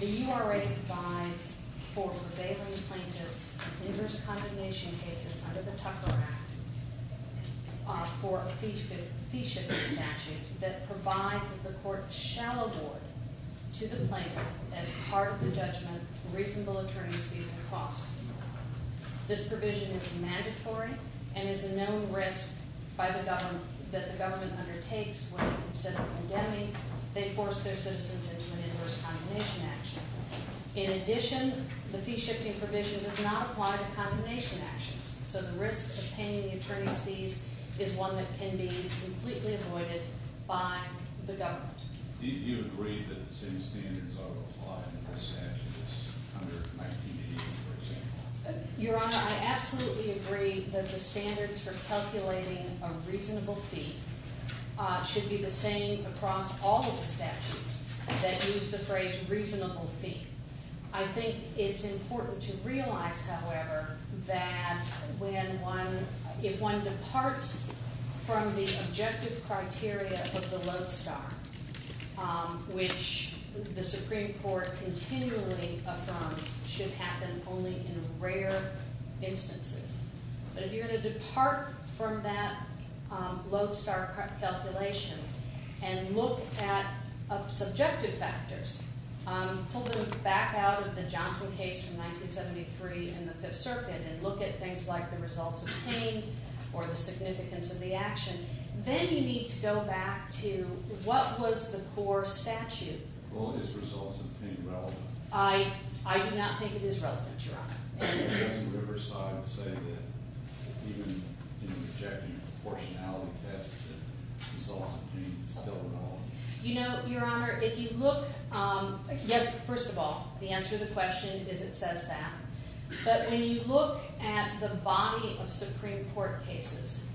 The U.R.A. provides for prevailing plaintiffs inverse condemnation cases under the Tucker Act for a fee-shipping statute that provides that the court shall award to the plaintiff, as part of the judgment, reasonable attorneys fees and costs. This provision is mandatory and is a known risk that the government undertakes when, instead of condemning, they force their citizens into an inverse condemnation action. In addition, the fee-shifting provision does not apply to condemnation actions, so the risk of paying the attorney's fees is one that can be completely avoided by the government. Do you agree that the same standards are applied in the statutes under 1980, for example? Your Honor, I absolutely agree that the standards for calculating a reasonable fee should be the same across all of the statutes that use the phrase reasonable fee. I think it's important to realize, however, that if one departs from the objective criteria of the lodestar, which the Supreme Court continually affirms should happen only in rare instances, but if you're going to depart from that lodestar calculation and look at subjective factors, pull them back out of the Johnson case from 1973 in the Fifth Circuit and look at things like the results obtained or the significance of the action, then you need to go back to what was the core statute. Well, is results obtained relevant? I do not think it is relevant, Your Honor. I would say that even in the objective proportionality test, the results would be still relevant. You know, Your Honor, if you look – yes, first of all, the answer to the question is it says that. But when you look at the body of Supreme Court cases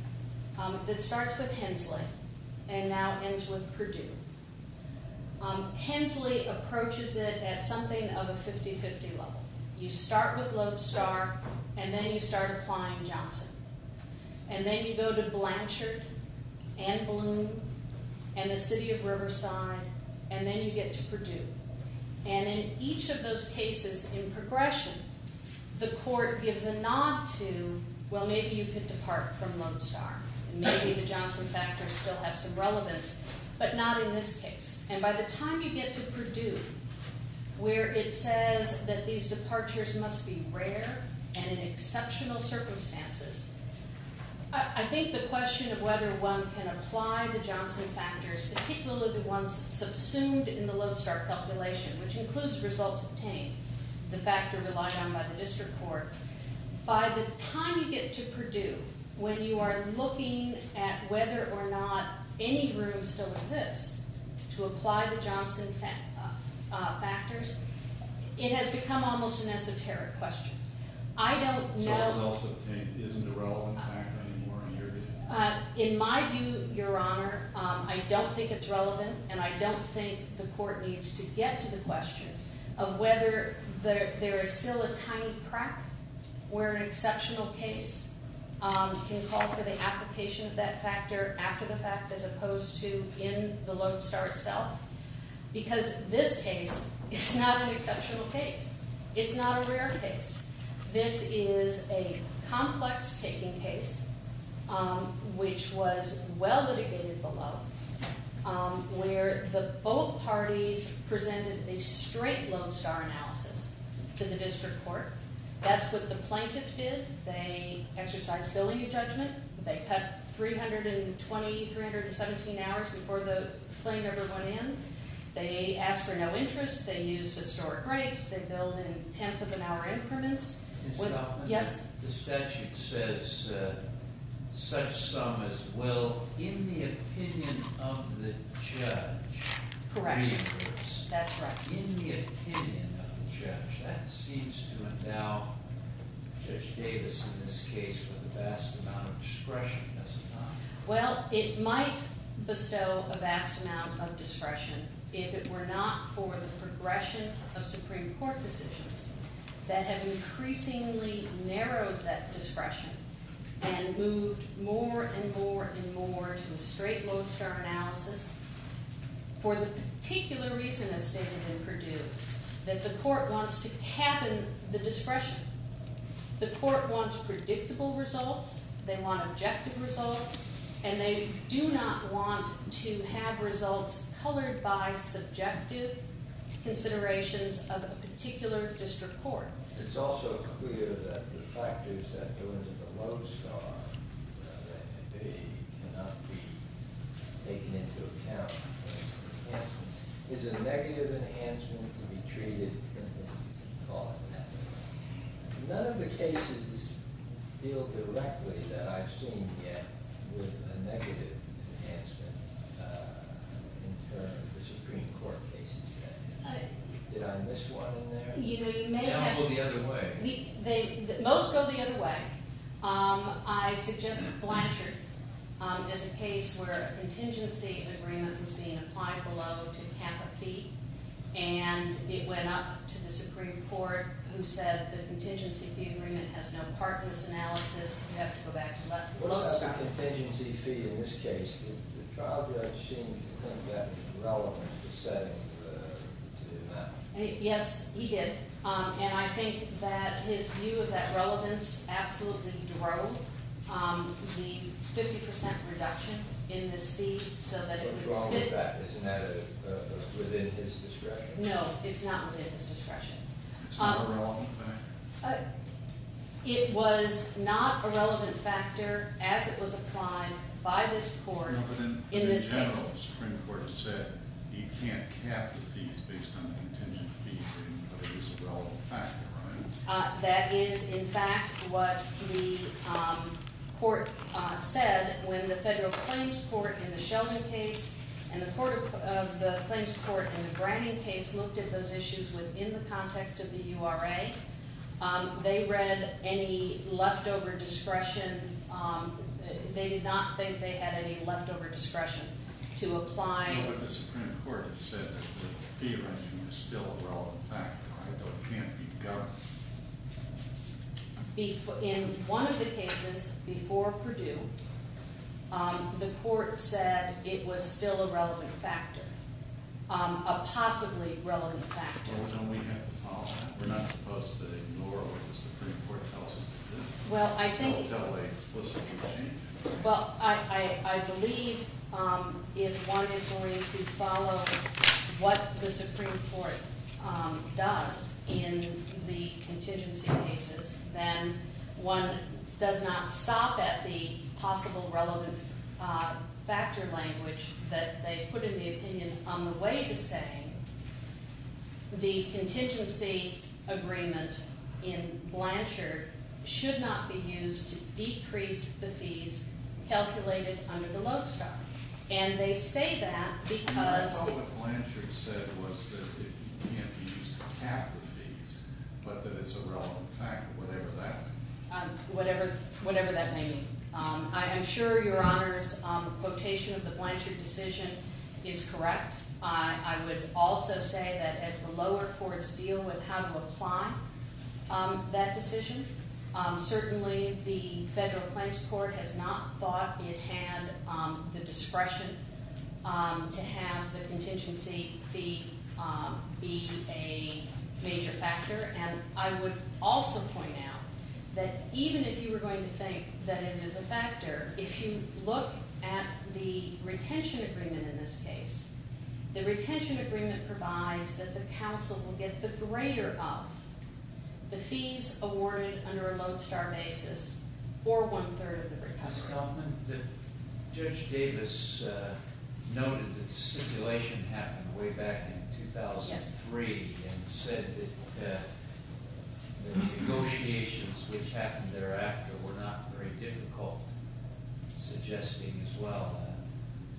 that starts with Hensley and now ends with Perdue, Hensley approaches it at something of a 50-50 level. You start with lodestar, and then you start applying Johnson. And then you go to Blanchard and Bloom and the city of Riverside, and then you get to Perdue. And in each of those cases in progression, the court gives a nod to, well, maybe you could depart from lodestar. Maybe the Johnson factor still has some relevance, but not in this case. And by the time you get to Perdue, where it says that these departures must be rare and in exceptional circumstances, I think the question of whether one can apply the Johnson factors, particularly the ones subsumed in the lodestar calculation, which includes results obtained, the factor relied on by the district court, by the time you get to Perdue, when you are looking at whether or not any room still exists to apply the Johnson factors, it has become almost an esoteric question. I don't know – So it's also, isn't a relevant factor anymore in your view? In my view, Your Honor, I don't think it's relevant, and I don't think the court needs to get to the question of whether there is still a tiny crack where an exceptional case can call for the application of that factor after the fact as opposed to in the lodestar itself. Because this case is not an exceptional case. It's not a rare case. This is a complex-taking case, which was well litigated below, where both parties presented a straight lodestar analysis to the district court. That's what the plaintiff did. They exercised billing adjudgment. They cut 320, 317 hours before the plaintiff went in. They asked for no interest. They used historic rates. They billed in tenth-of-an-hour increments. Yes? The statute says such sum as will in the opinion of the judge reimburse. Correct. That's right. In the opinion of the judge. That seems to endow Judge Davis in this case with a vast amount of discretion, does it not? Well, it might bestow a vast amount of discretion if it were not for the progression of Supreme Court decisions that have increasingly narrowed that discretion and moved more and more and more to a straight lodestar analysis for the particular reason, as stated in Purdue, that the court wants to cap in the discretion. The court wants predictable results. They want objective results. And they do not want to have results colored by subjective considerations of a particular district court. It's also clear that the factors that go into the lodestar that they cannot be taken into account is a negative enhancement to be treated, you can call it that. None of the cases deal directly that I've seen yet with a negative enhancement in terms of the Supreme Court cases. Did I miss one in there? They all go the other way. Most go the other way. I suggest Blanchard as a case where a contingency agreement was being applied below to cap a fee and it went up to the Supreme Court who said the contingency fee agreement has no part in this analysis. You have to go back to lodestar. What about the contingency fee in this case? The trial judge seemed to think that was relevant to setting the amount. Yes, he did. And I think that his view of that relevance absolutely drove the 50% reduction in this fee so that it would fit. Isn't that within his discretion? No, it's not within his discretion. It's not a relevant factor? It was not a relevant factor as it was applied by this court in this case. But the general Supreme Court said you can't cap the fees based on the contingency fee agreement, but it is a relevant factor, right? That is, in fact, what the court said when the federal claims court in the Sheldon case and the claims court in the Branning case looked at those issues within the context of the URA. They read any leftover discretion. They did not think they had any leftover discretion to apply. But the Supreme Court said that the fee reduction was still a relevant factor, right? It can't be governed. In one of the cases before Purdue, the court said it was still a relevant factor, a possibly relevant factor. Well, then we have to follow that. We're not supposed to ignore what the Supreme Court tells us to do. Well, I think- I'll tell the explicit exchange. Well, I believe if one is going to follow what the Supreme Court does in the contingency cases, then one does not stop at the possible relevant factor language that they put in the opinion on the way to saying the contingency agreement in Blanchard should not be used to decrease the fees calculated under the Lodestar. And they say that because- I thought what Blanchard said was that it can't be used to cap the fees, but that it's a relevant factor, whatever that may mean. Whatever that may mean. I'm sure Your Honor's quotation of the Blanchard decision is correct. I would also say that as the lower courts deal with how to apply that decision, certainly the federal claims court has not thought it had the discretion to have the contingency fee be a major factor. And I would also point out that even if you were going to think that it is a factor, if you look at the retention agreement in this case, the retention agreement provides that the counsel will get the greater of the fees awarded under a Lodestar basis, or one-third of the recovery. Judge Davis noted that stipulation happened way back in 2003, and said that the negotiations which happened thereafter were not very difficult, suggesting as well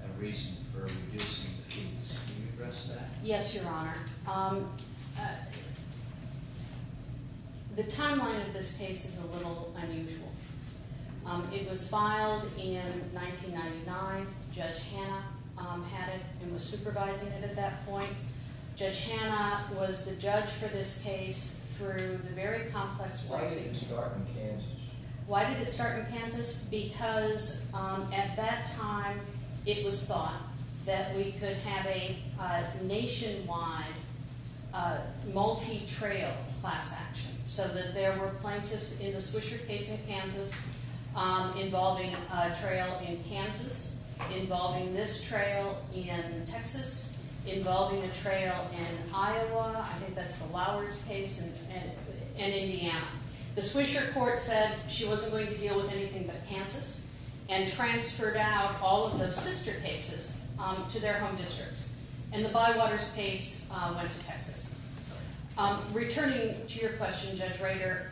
a reason for reducing the fees. Can you address that? Yes, Your Honor. The timeline of this case is a little unusual. It was filed in 1999. Judge Hanna had it and was supervising it at that point. Judge Hanna was the judge for this case through the very complex- Why did it start in Kansas? Why did it start in Kansas? Because at that time it was thought that we could have a nationwide multi-trail class action, so that there were plaintiffs in the Swisher case in Kansas involving a trail in Kansas, involving this trail in Texas, involving a trail in Iowa, I think that's the Lowers case, and Indiana. The Swisher court said she wasn't going to deal with anything but Kansas, and transferred out all of the sister cases to their home districts. Returning to your question, Judge Rader,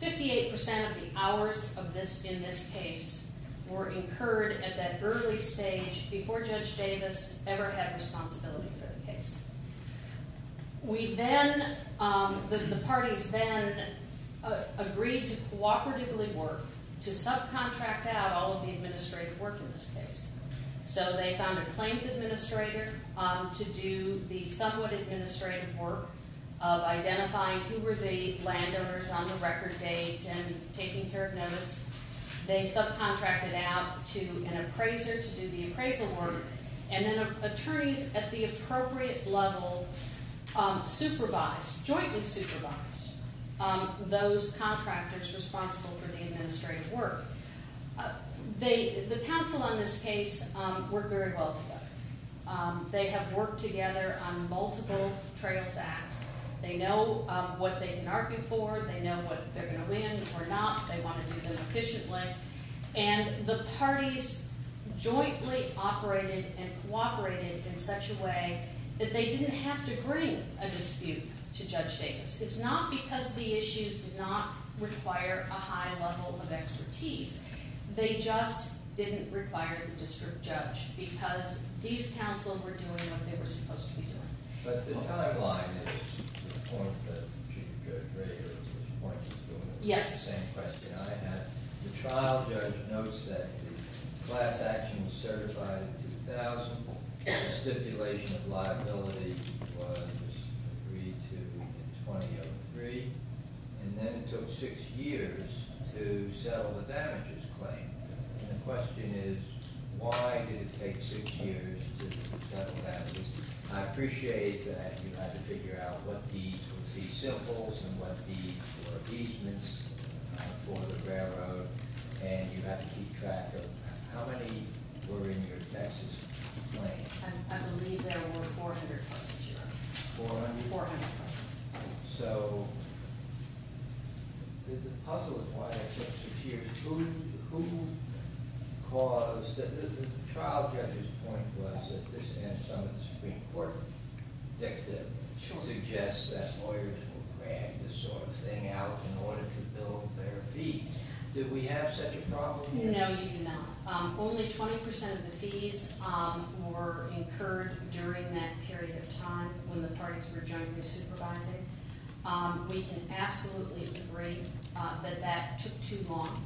58% of the hours in this case were incurred at that early stage before Judge Davis ever had responsibility for the case. The parties then agreed to cooperatively work to subcontract out all of the administrative work in this case. So they found a claims administrator to do the somewhat administrative work of identifying who were the landowners on the record date and taking care of notice. They subcontracted out to an appraiser to do the appraisal work, and then attorneys at the appropriate level supervised, jointly supervised, those contractors responsible for the administrative work. The counsel on this case worked very well together. They have worked together on multiple trails acts. They know what they can argue for. They know what they're going to win or not. They want to do them efficiently. And the parties jointly operated and cooperated in such a way that they didn't have to bring a dispute to Judge Davis. It's not because the issues did not require a high level of expertise. They just didn't require the district judge because these counsel were doing what they were supposed to be doing. But the timeline is the point that Chief Judge Rager was pointing to. It's the same question I had. The trial judge notes that the class action was certified in 2000. The stipulation of liability was agreed to in 2003. And then it took six years to settle the damages claim. And the question is, why did it take six years to settle damages? I appreciate that you had to figure out what these were the symbols and what these were the easements for the railroad. And you had to keep track of how many were in your taxes claim. I believe there were 400 buses here. 400? 400 buses. So, the puzzle is why it took six years. Who caused, the trial judge's point was that this and some of the Supreme Court dictates suggests that lawyers will grant this sort of thing out in order to build their fee. Did we have such a problem? No, you did not. Only 20% of the fees were incurred during that period of time when the parties were jointly supervising. We can absolutely agree that that took too long.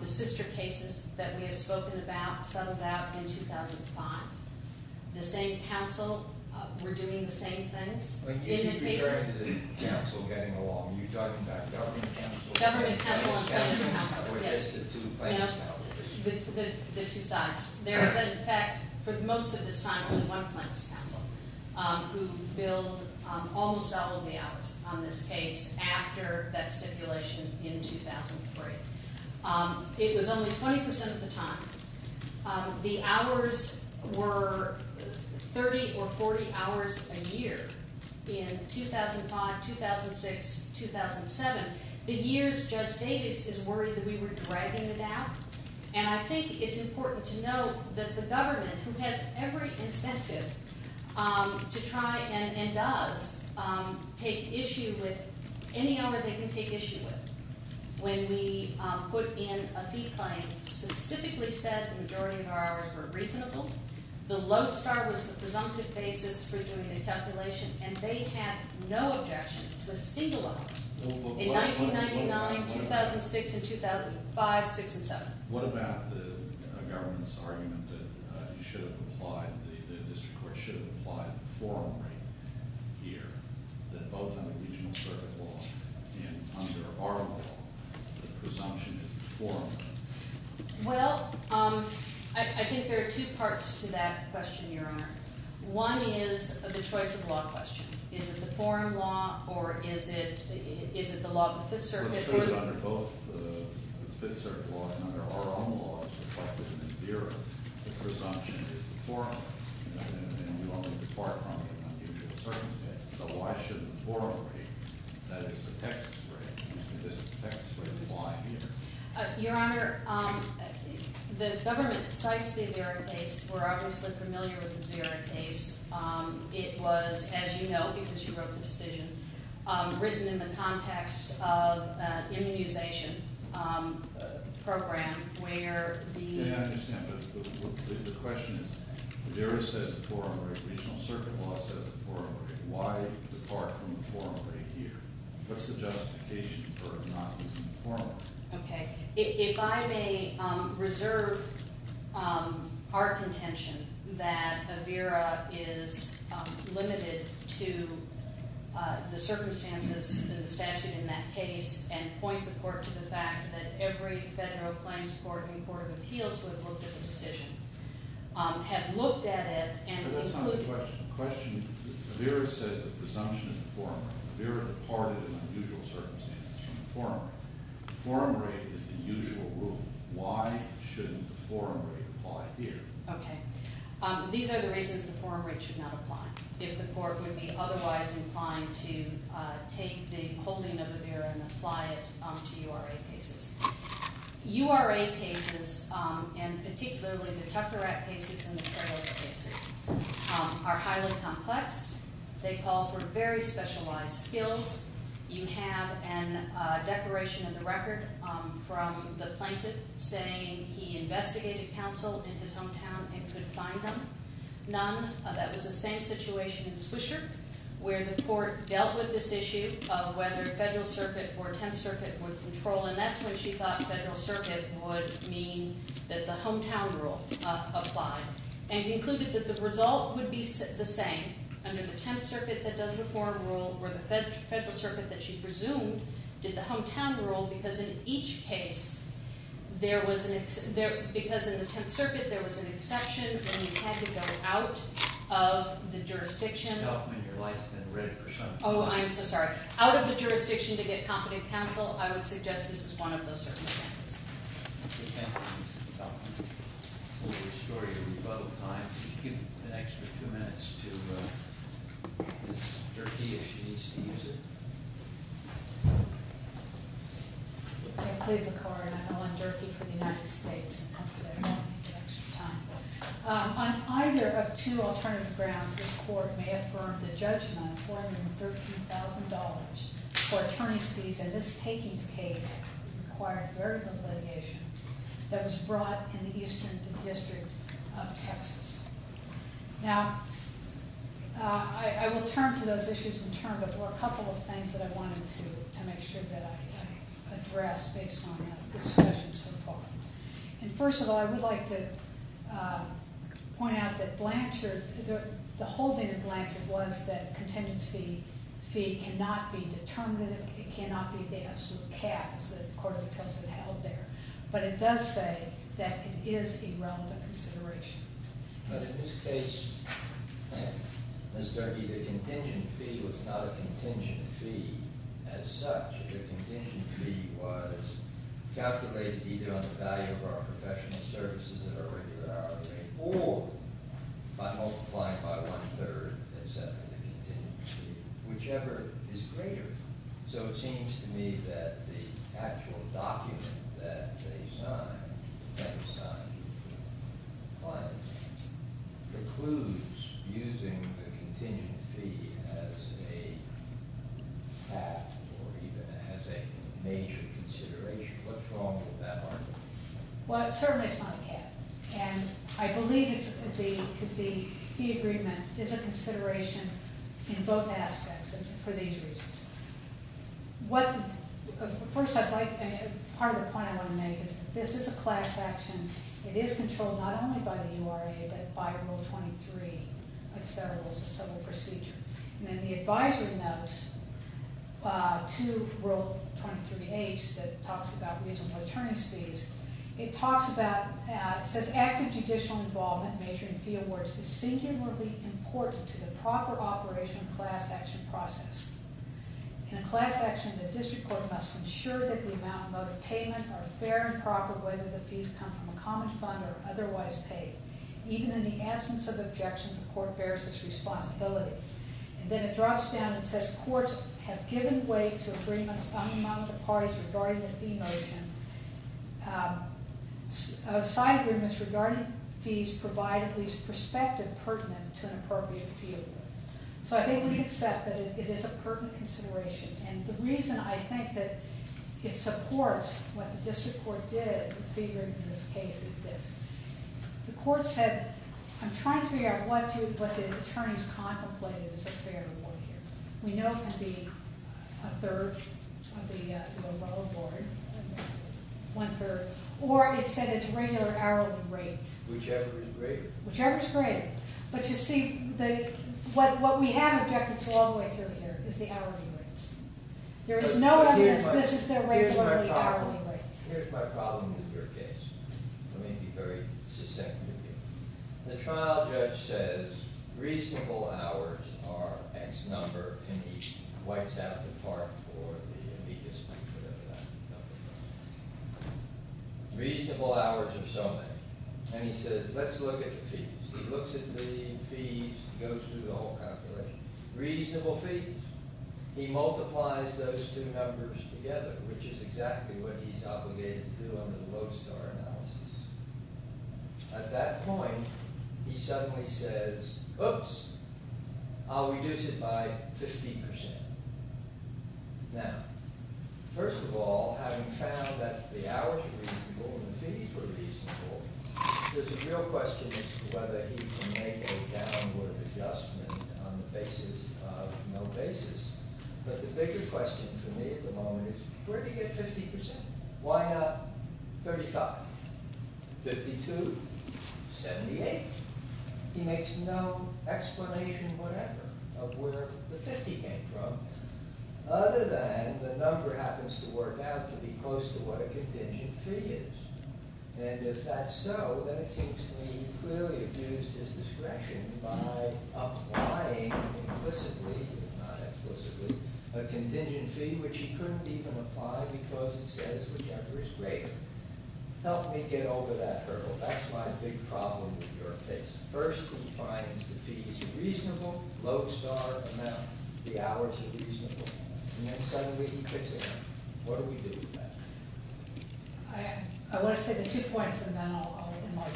The sister cases that we have spoken about, settled out in 2005. The same council, we're doing the same things. If you compare the city council getting along, you're talking about government council. Government council and planning council, yes. Or just the two planning councils. The two sides. There is, in fact, for most of this time, only one planning council who billed almost double the hours on this case after that stipulation in 2003. It was only 20% of the time. The hours were 30 or 40 hours a year in 2005, 2006, 2007. The years Judge Davis is worried that we were dragging it out. And I think it's important to note that the government, who has every incentive to try and does, take issue with any hour they can take issue with. When we put in a fee claim, specifically said the majority of our hours were reasonable. The lodestar was the presumptive basis for doing the calculation. And they had no objection to a single hour. In 1999, 2006, and 2005, 2006, and 2007. What about the government's argument that you should have applied, the district court should have applied the forum rate here? That both under regional circuit law and under our law, the presumption is the forum rate. Well, I think there are two parts to that question, Your Honor. One is the choice of law question. Is it the forum law, or is it the law of the Fifth Circuit? Well, it's true that under both the Fifth Circuit law and under our own laws, reflected in the Bureau, the presumption is the forum rate. And you only depart from it in unusual circumstances. So why should the forum rate, that is the Texas rate, and this is the Texas rate, apply here? Your Honor, the government cites the Vera case. We're obviously familiar with the Vera case. It was, as you know, because you wrote the decision, written in the context of an immunization program where the... Yeah, I understand, but the question is, Vera says the forum rate, regional circuit law says the forum rate. Why depart from the forum rate here? What's the justification for not using the forum rate? Okay. If I may reserve our contention that a Vera is limited to the circumstances in the statute in that case and point the court to the fact that every federal claims court and court of appeals who have looked at the decision have looked at it and included... But that's not the question. The question is, Vera says the presumption is the forum rate. Vera departed in unusual circumstances from the forum rate. The forum rate is the usual rule. Why shouldn't the forum rate apply here? Okay. These are the reasons the forum rate should not apply, if the court would be otherwise inclined to take the holding of the Vera and apply it to URA cases. URA cases, and particularly the Tucker Act cases and the Federalist cases, are highly complex. They call for very specialized skills. You have a declaration in the record from the plaintiff saying he investigated counsel in his hometown and could find them. None. That was the same situation in Swisher where the court dealt with this issue of whether Federal Circuit or Tenth Circuit would control, and that's when she thought Federal Circuit would mean that the hometown rule applied and concluded that the result would be the same under the Tenth Circuit that does the forum rule where the Federal Circuit that she presumed did the hometown rule because in each case there was an exception. Because in the Tenth Circuit there was an exception and you had to go out of the jurisdiction. Your lights have been red for some time. Oh, I'm so sorry. Out of the jurisdiction to get competent counsel. I would suggest this is one of those circumstances. Thank you, Mr. DeFalco. We'll restore your rebuttal time. Could you give an extra two minutes to Ms. Durkee if she needs to use it? Please, I'm Ellen Durkee for the United States. On either of two alternative grounds, this court may affirm the judgment, $413,000 for attorney's fees, and this takings case required very little litigation that was brought in the Eastern District of Texas. Now, I will turn to those issues in turn, but there were a couple of things that I wanted to make sure that I addressed based on the discussion so far. And first of all, I would like to point out that Blanchard, the holding of Blanchard was that contingency fee cannot be determined, it cannot be the absolute caps that the court of appeals had held there. But it does say that it is a realm of consideration. Ms. Durkee, the contingency fee was not a contingency fee as such. The contingency fee was calculated either on the value of our professional services at our regular hourly rate or by multiplying by one-third and setting the contingency fee, whichever is greater. So it seems to me that the actual document that they signed, that was signed by the client, precludes using the contingency fee as a cap or even as a major consideration. What's wrong with that argument? Well, it certainly is not a cap. And I believe the agreement is a consideration in both aspects for these reasons. First, part of the point I want to make is that this is a class action. It is controlled not only by the URA, but by Rule 23 of the Federal Civil Procedure. And then the advisory notes to Rule 23H that talks about reasonable attorney's fees, it talks about, it says active judicial involvement, major and fee awards, is singularly important to the proper operation of class action process. In a class action, the district court must ensure that the amount of payment are fair and proper whether the fees come from a common fund or otherwise paid. Even in the absence of objections, the court bears this responsibility. And then it drops down and says courts have given way to agreements among the parties regarding the fee notion. Side agreements regarding fees provide at least perspective pertinent to an appropriate field. So I think we accept that it is a pertinent consideration. And the reason I think that it supports what the district court did, the court said, I'm trying to figure out what the attorneys contemplated as a fair award here. We know it can be a third of the overall award, one third. Or it said it's regular hourly rate. Whichever is greater. Whichever is greater. But you see, what we have objected to all the way through here is the hourly rates. There is no evidence this is the regular hourly rates. Here's my problem with your case. Let me be very succinct with you. The trial judge says reasonable hours are X number. And he wipes out the part for the amicus whatever that number is. Reasonable hours of so many. And he says let's look at the fees. He looks at the fees, goes through the whole calculation. Reasonable fees. He multiplies those two numbers together. Which is exactly what he's obligated to do under the Lodestar analysis. At that point, he suddenly says, oops, I'll reduce it by 50%. Now, first of all, having found that the hours were reasonable and the fees were reasonable, there's a real question as to whether he can make a downward adjustment on the basis of no basis. But the bigger question for me at the moment is where do you get 50%? Why not 35? 52? 78? He makes no explanation whatever of where the 50 came from. Other than the number happens to work out to be close to what a contingent fee is. And if that's so, then it seems to me he clearly abused his discretion by applying implicitly, if not implicitly, a contingent fee which he couldn't even apply because it says whichever is greater. Help me get over that hurdle. That's my big problem with your case. First, he finds the fees reasonable, Lodestar amount. The hours are reasonable. And then suddenly he quits again. What do we do with that? I want to say the two points, and then I'll open up.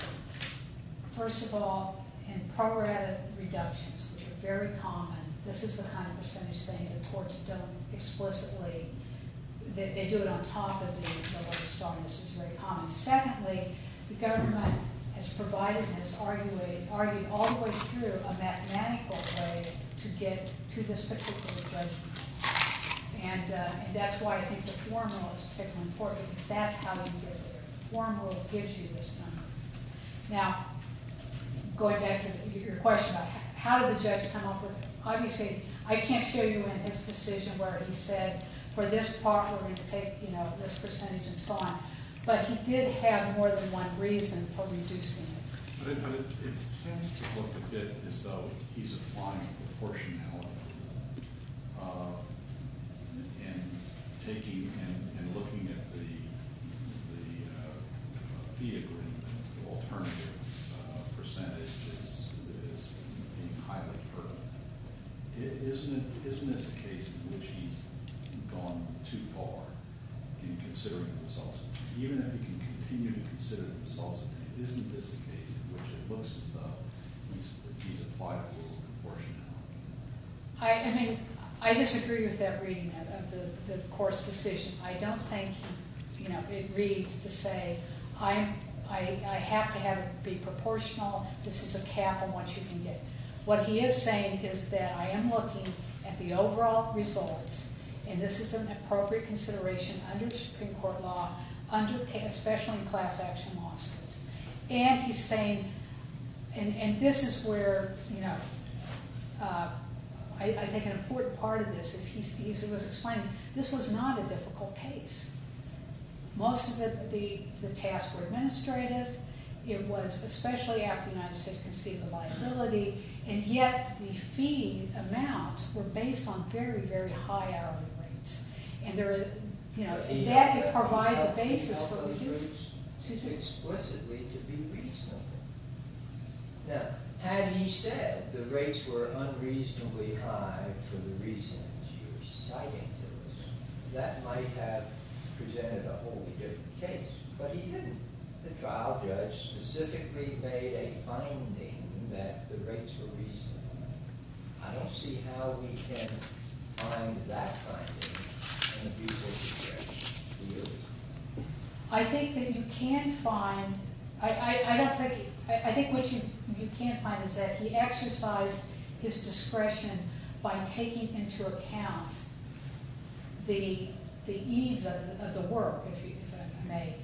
First of all, in prorated reductions, which are very common, this is the kind of percentage things that courts don't explicitly, they do it on top of the Lodestar, and this is very common. Secondly, the government has provided and has argued all the way through a mathematical way to get to this particular judgment. And that's why I think the formula is particularly important because that's how you get there. The formula gives you this number. Now, going back to your question about how did the judge come up with it, obviously I can't show you in his decision where he said for this part we're going to take this percentage and so on, but he did have more than one reason for reducing it. But it tends to look a bit as though he's applying a proportionality in taking and looking at the fee agreement. The alternative percentage is being highly pertinent. Isn't this a case in which he's gone too far in considering the results? Even if he can continue to consider the results, isn't this a case in which it looks as though he's applied a little proportionality? I disagree with that reading of the court's decision. I don't think it reads to say I have to have it be proportional. This is a cap on what you can get. What he is saying is that I am looking at the overall results, and this is an appropriate consideration under the Supreme Court law, especially in class action lawsuits. And he's saying, and this is where I think an important part of this is he was explaining this was not a difficult case. Most of the tasks were administrative. It was especially after the United States conceded the liability, and yet the fee amount were based on very, very high hourly rates. And that provides a basis for reducing. Explicitly to be reasonable. Now, had he said the rates were unreasonably high for the reasons you're citing to us, that might have presented a wholly different case. But he didn't. The trial judge specifically made a finding that the rates were reasonable. I don't see how we can find that finding in a beautiful case for you. I think that you can find, I don't think, I think what you can find is that he exercised his discretion by taking into account the ease of the work, if I may,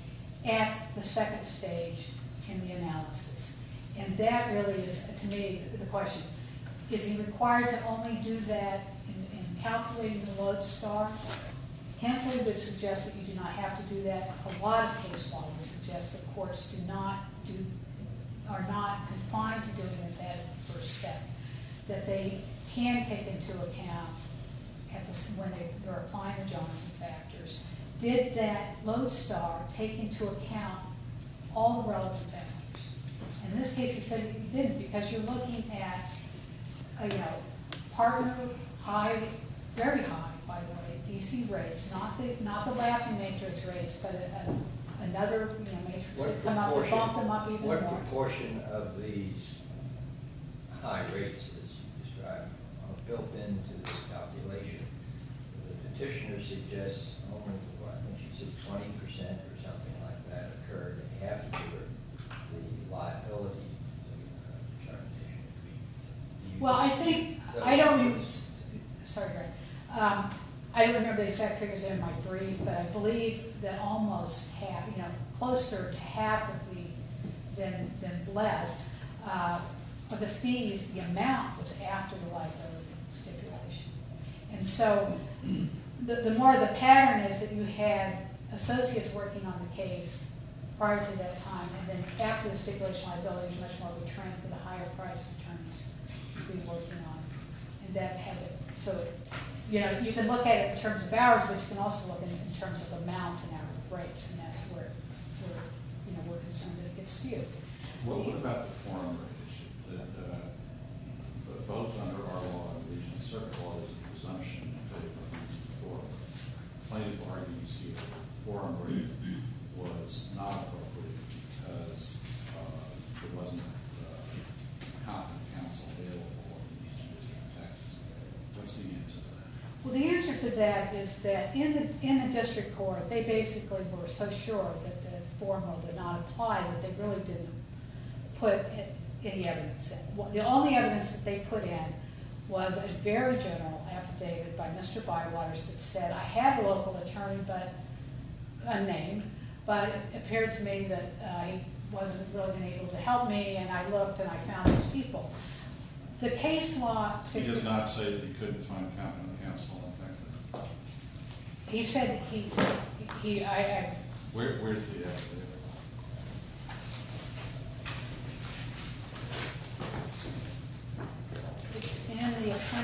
at the second stage in the analysis. And that really is, to me, the question. Is he required to only do that in calculating the lodestar? Hensley would suggest that you do not have to do that. A lot of case law would suggest that courts are not confined to doing that first step. That they can take into account when they're applying the Johnson factors. Did that lodestar take into account all the relevant factors? In this case, he said he didn't. Because you're looking at partner high, very high, by the way, D.C. rates. Not the laughing matrix rates, but another matrix. What proportion of these high rates, as you described, are built into this calculation? The petitioner suggests only 20% or something like that occurred. Half of the liability. Well, I think, I don't, sorry, I don't remember the exact figures in my brief, but I believe that almost half, you know, closer to half of the, than less, of the fees, the amount, was after the liability stipulation. And so, the more the pattern is that you had associates working on the case prior to that time, and then after the stipulation liability, it's much more of a trend for the higher price attorneys to be working on. So, you know, you can look at it in terms of hours, but you can also look at it in terms of amounts and hourly rates, and that's where, you know, we're concerned that it gets skewed. What about the forum rate issue? Both under our law in the region, certain laws, the presumption in favor of using the forum rate, plenty of arguments here, forum rate was not appropriate because there wasn't a competent counsel available for these two different factors. What's the answer to that? Well, the answer to that is that in the district court, they basically were so sure that the formal did not apply, that they really didn't put any evidence in. The only evidence that they put in was a very general affidavit by Mr. Bywaters that said, I have a local attorney, but, unnamed, but it appeared to me that he wasn't really able to help me, and I looked and I found these people. The case law... He did not say that he couldn't find a competent counsel. He said that he... Where's the affidavit? It's in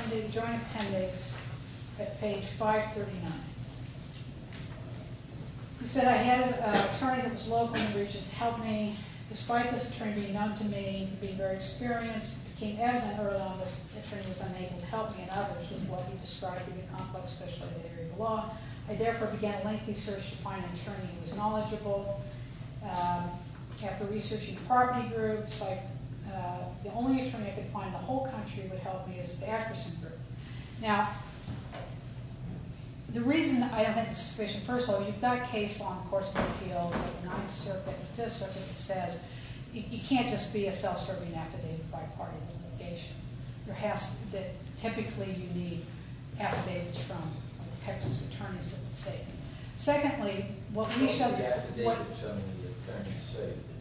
the joint appendix at page 539. He said, I had an attorney that was local in the region to help me. Despite this attorney being unknown to me, being very experienced, it became evident early on that this attorney was unable to help me and others with what he described to be a complex speciality area of the law. I, therefore, began a lengthy search to find an attorney who was knowledgeable. I kept researching party groups. The only attorney I could find in the whole country who would help me is the Atkerson Group. Now, the reason I have that suspicion... First of all, you've got a case law in the Courts of Appeals of the 9th Circuit and 5th Circuit that says you can't just be a self-serving affidavit by party litigation. There has to be... Typically, you need affidavits from Texas attorneys that would say... Secondly, what we showed...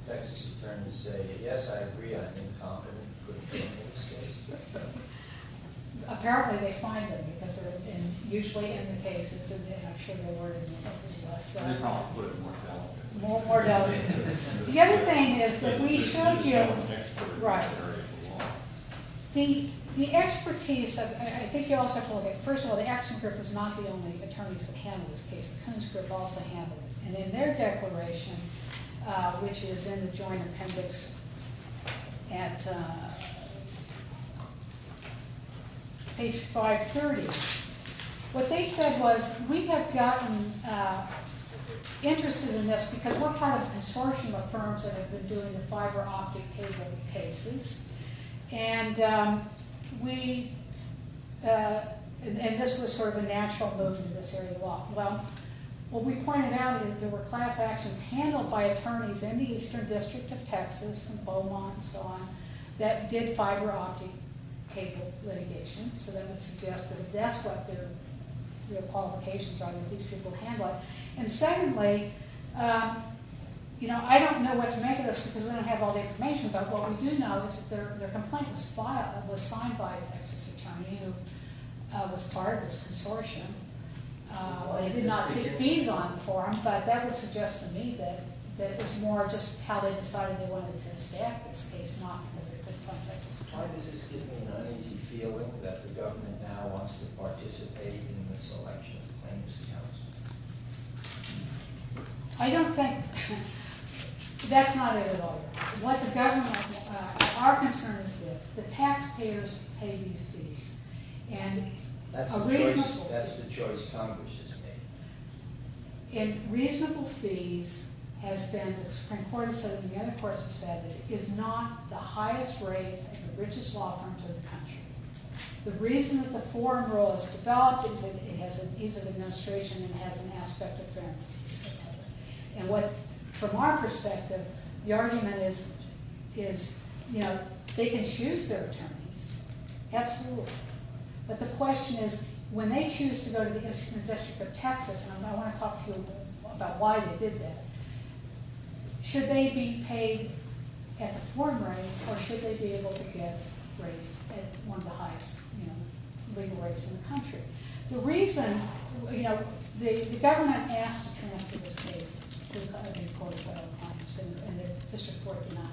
...Texas attorneys say, yes, I agree, I'm incompetent... Apparently, they find them because they're usually in the cases... The other thing is that we showed you... The expertise of... I think you also have to look at... First of all, the Atkerson Group was not the only attorneys that handled this case. The Coons Group also handled it. In their declaration, which is in the Joint Appendix at page 530, what they said was, we have gotten interested in this because we're part of a consortium of firms that have been doing the fiber optic cable cases. This was sort of a natural movement in this area of law. What we pointed out is that there were class actions handled by attorneys in the Eastern District of Texas, from Beaumont and so on, that did fiber optic cable litigation. That would suggest that that's what their qualifications are, that these people handle it. Secondly, I don't know what to make of this because we don't have all the information, but what we do know is that their complaint was signed by a Texas attorney who was part of this consortium. I did not see fees on the form, but that would suggest to me that it was more just how they decided they wanted to staff this case, not because it was a Texas attorney. Why does this give me an uneasy feeling that the government now wants to participate in the selection of plaintiffs' counsel? I don't think... That's not it at all. What the government... Our concern is this. The taxpayers pay these fees. That's the choice Congress has made. Reasonable fees has been... The Supreme Court has said it, and the other courts have said it, is not the highest raised and the richest law firms in the country. The reason that the foreign role has developed is that it has an ease of administration and has an aspect of fairness. From our perspective, the argument is they can choose their attorneys. Absolutely. But the question is, when they choose to go to the District of Texas, and I want to talk to you about why they did that, should they be paid at the form rate or should they be able to get raised at one of the highest legal rates in the country? The reason... The government asked to transfer this case to the Court of Federal Appointments in District 49.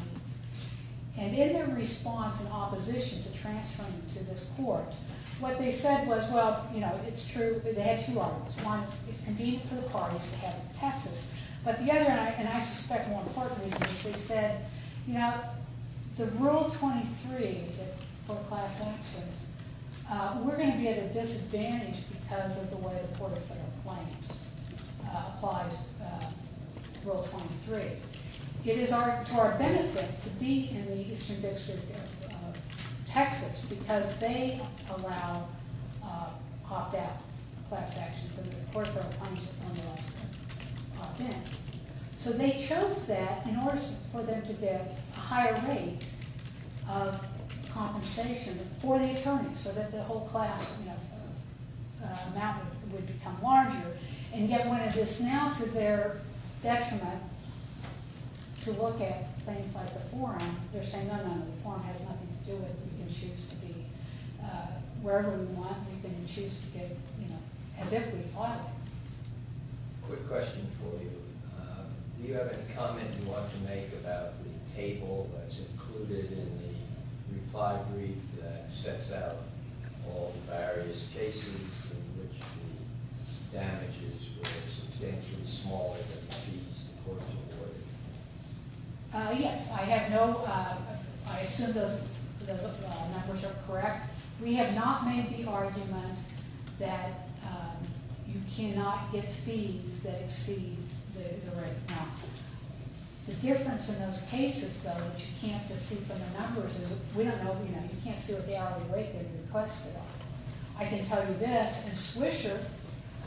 In their response and opposition to transferring to this court, what they said was, well, it's true. They had two arguments. One is it's convenient for the parties to have it in Texas. But the other, and I suspect more importantly, is they said, you know, the Rule 23, the full-class access, we're going to be at a disadvantage because of the way the Court of Federal Appointments applies Rule 23. It is to our benefit to be in the Eastern District of Texas because they allow opt-out class actions in the Court of Federal Appointments when they're opt-in. So they chose that in order for them to get a higher rate of compensation for the attorneys so that the whole class amount would become larger. And yet, when it is now to their detriment, to look at things like the forum, they're saying, no, no, the forum has nothing to do with it. We can choose to be wherever we want. We can choose to get, you know, as if we fought it. Quick question for you. Do you have any comment you want to make about the table that's included in the reply brief that sets out all the various cases in which the damages were substantially smaller than the fees the court awarded? Yes, I have no... I assume those numbers are correct. We have not made the argument that you cannot get fees that exceed the rate amount. The difference in those cases, though, that you can't just see from the numbers is we don't know, you know, you can't see what the hourly rate that we requested are. I can tell you this, in Swisher,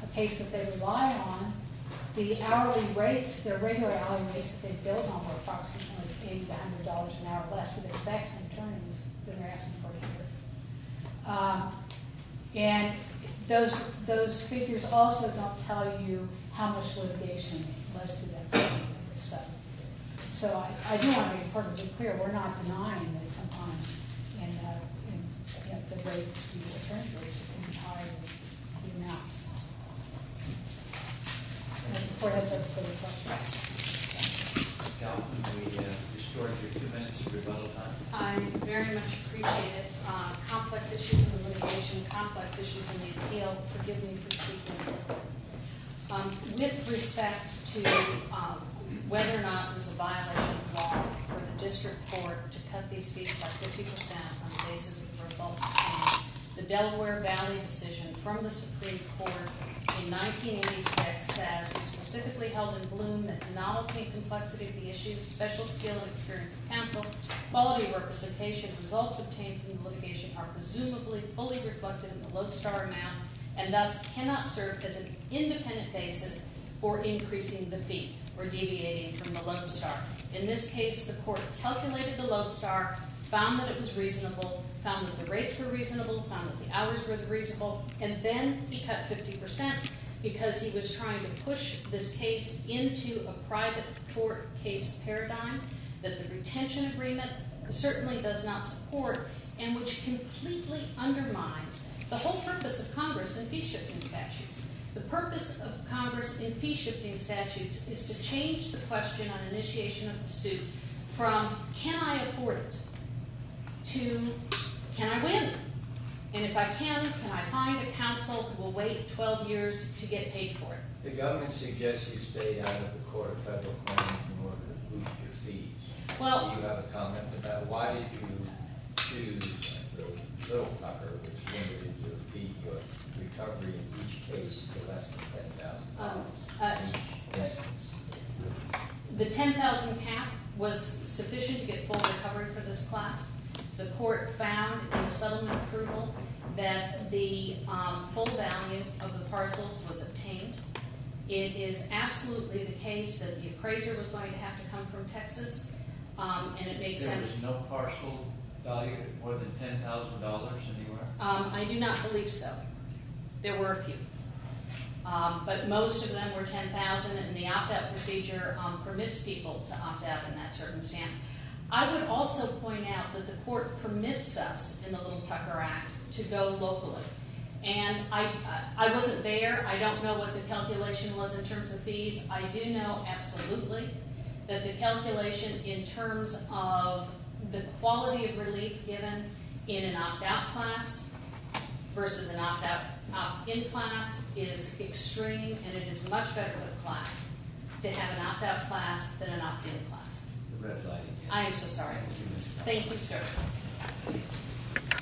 a case that they rely on, the hourly rates, their regular hourly rates that they billed on were approximately $80 to $100 an hour less for the exact same attorneys than they're asking for here. And those figures also don't tell you how much litigation led to that settlement. So I do want to be perfectly clear, we're not denying that sometimes the rates to the attorneys are higher than the amounts. And the court has no further questions. Ms. Galvin, we have restored your two minutes to rebuttal time. I very much appreciate it. Complex issues in the litigation, complex issues in the appeal, forgive me for speaking. With respect to whether or not it was a violation of law for the district court to cut these fees by 50% on the basis of the results obtained, the Delaware bounty decision from the Supreme Court in 1986 says, specifically held in Bloom, that the novelty and complexity of the issues, special skill and experience of counsel, quality of representation, and results obtained from the litigation are presumably fully reflected in the lodestar amount and thus cannot serve as an independent basis for increasing the fee or deviating from the lodestar. In this case, the court calculated the lodestar, found that it was reasonable, found that the rates were reasonable, found that the hours were reasonable, and then he cut 50% because he was trying to push this case into a private court case paradigm that the retention agreement certainly does not support and which completely undermines the whole purpose of Congress in fee-shifting statutes. The purpose of Congress in fee-shifting statutes is to change the question on initiation of the suit from, can I afford it? to, can I win? And if I can, can I find a counsel who will wait 12 years to get paid for it? The government suggests you stay out of the court federal claim in order to boost your fees. Do you have a comment about why did you choose Bill Tucker which limited your fee recovery in each case to less than $10,000? The $10,000 cap was sufficient to get full recovery for this class. The court found in the settlement approval that the full value of the parcels was obtained. It is absolutely the case that the appraiser was going to have to come from Texas and it made sense. There was no parcel value more than $10,000 anywhere? I do not believe so. There were a few. But most of them were $10,000 and the opt-out procedure permits people to opt-out in that circumstance. I would also point out that the court permits us in the Little Tucker Act to go locally. I was not there. I do not know what the calculation was in terms of fees. I do know absolutely that the calculation in terms of the quality of relief given in an opt-out class versus an opt-in class is extreme and it is much better with a class to have an opt-out class than an opt-in class. I am so sorry. Thank you, sir.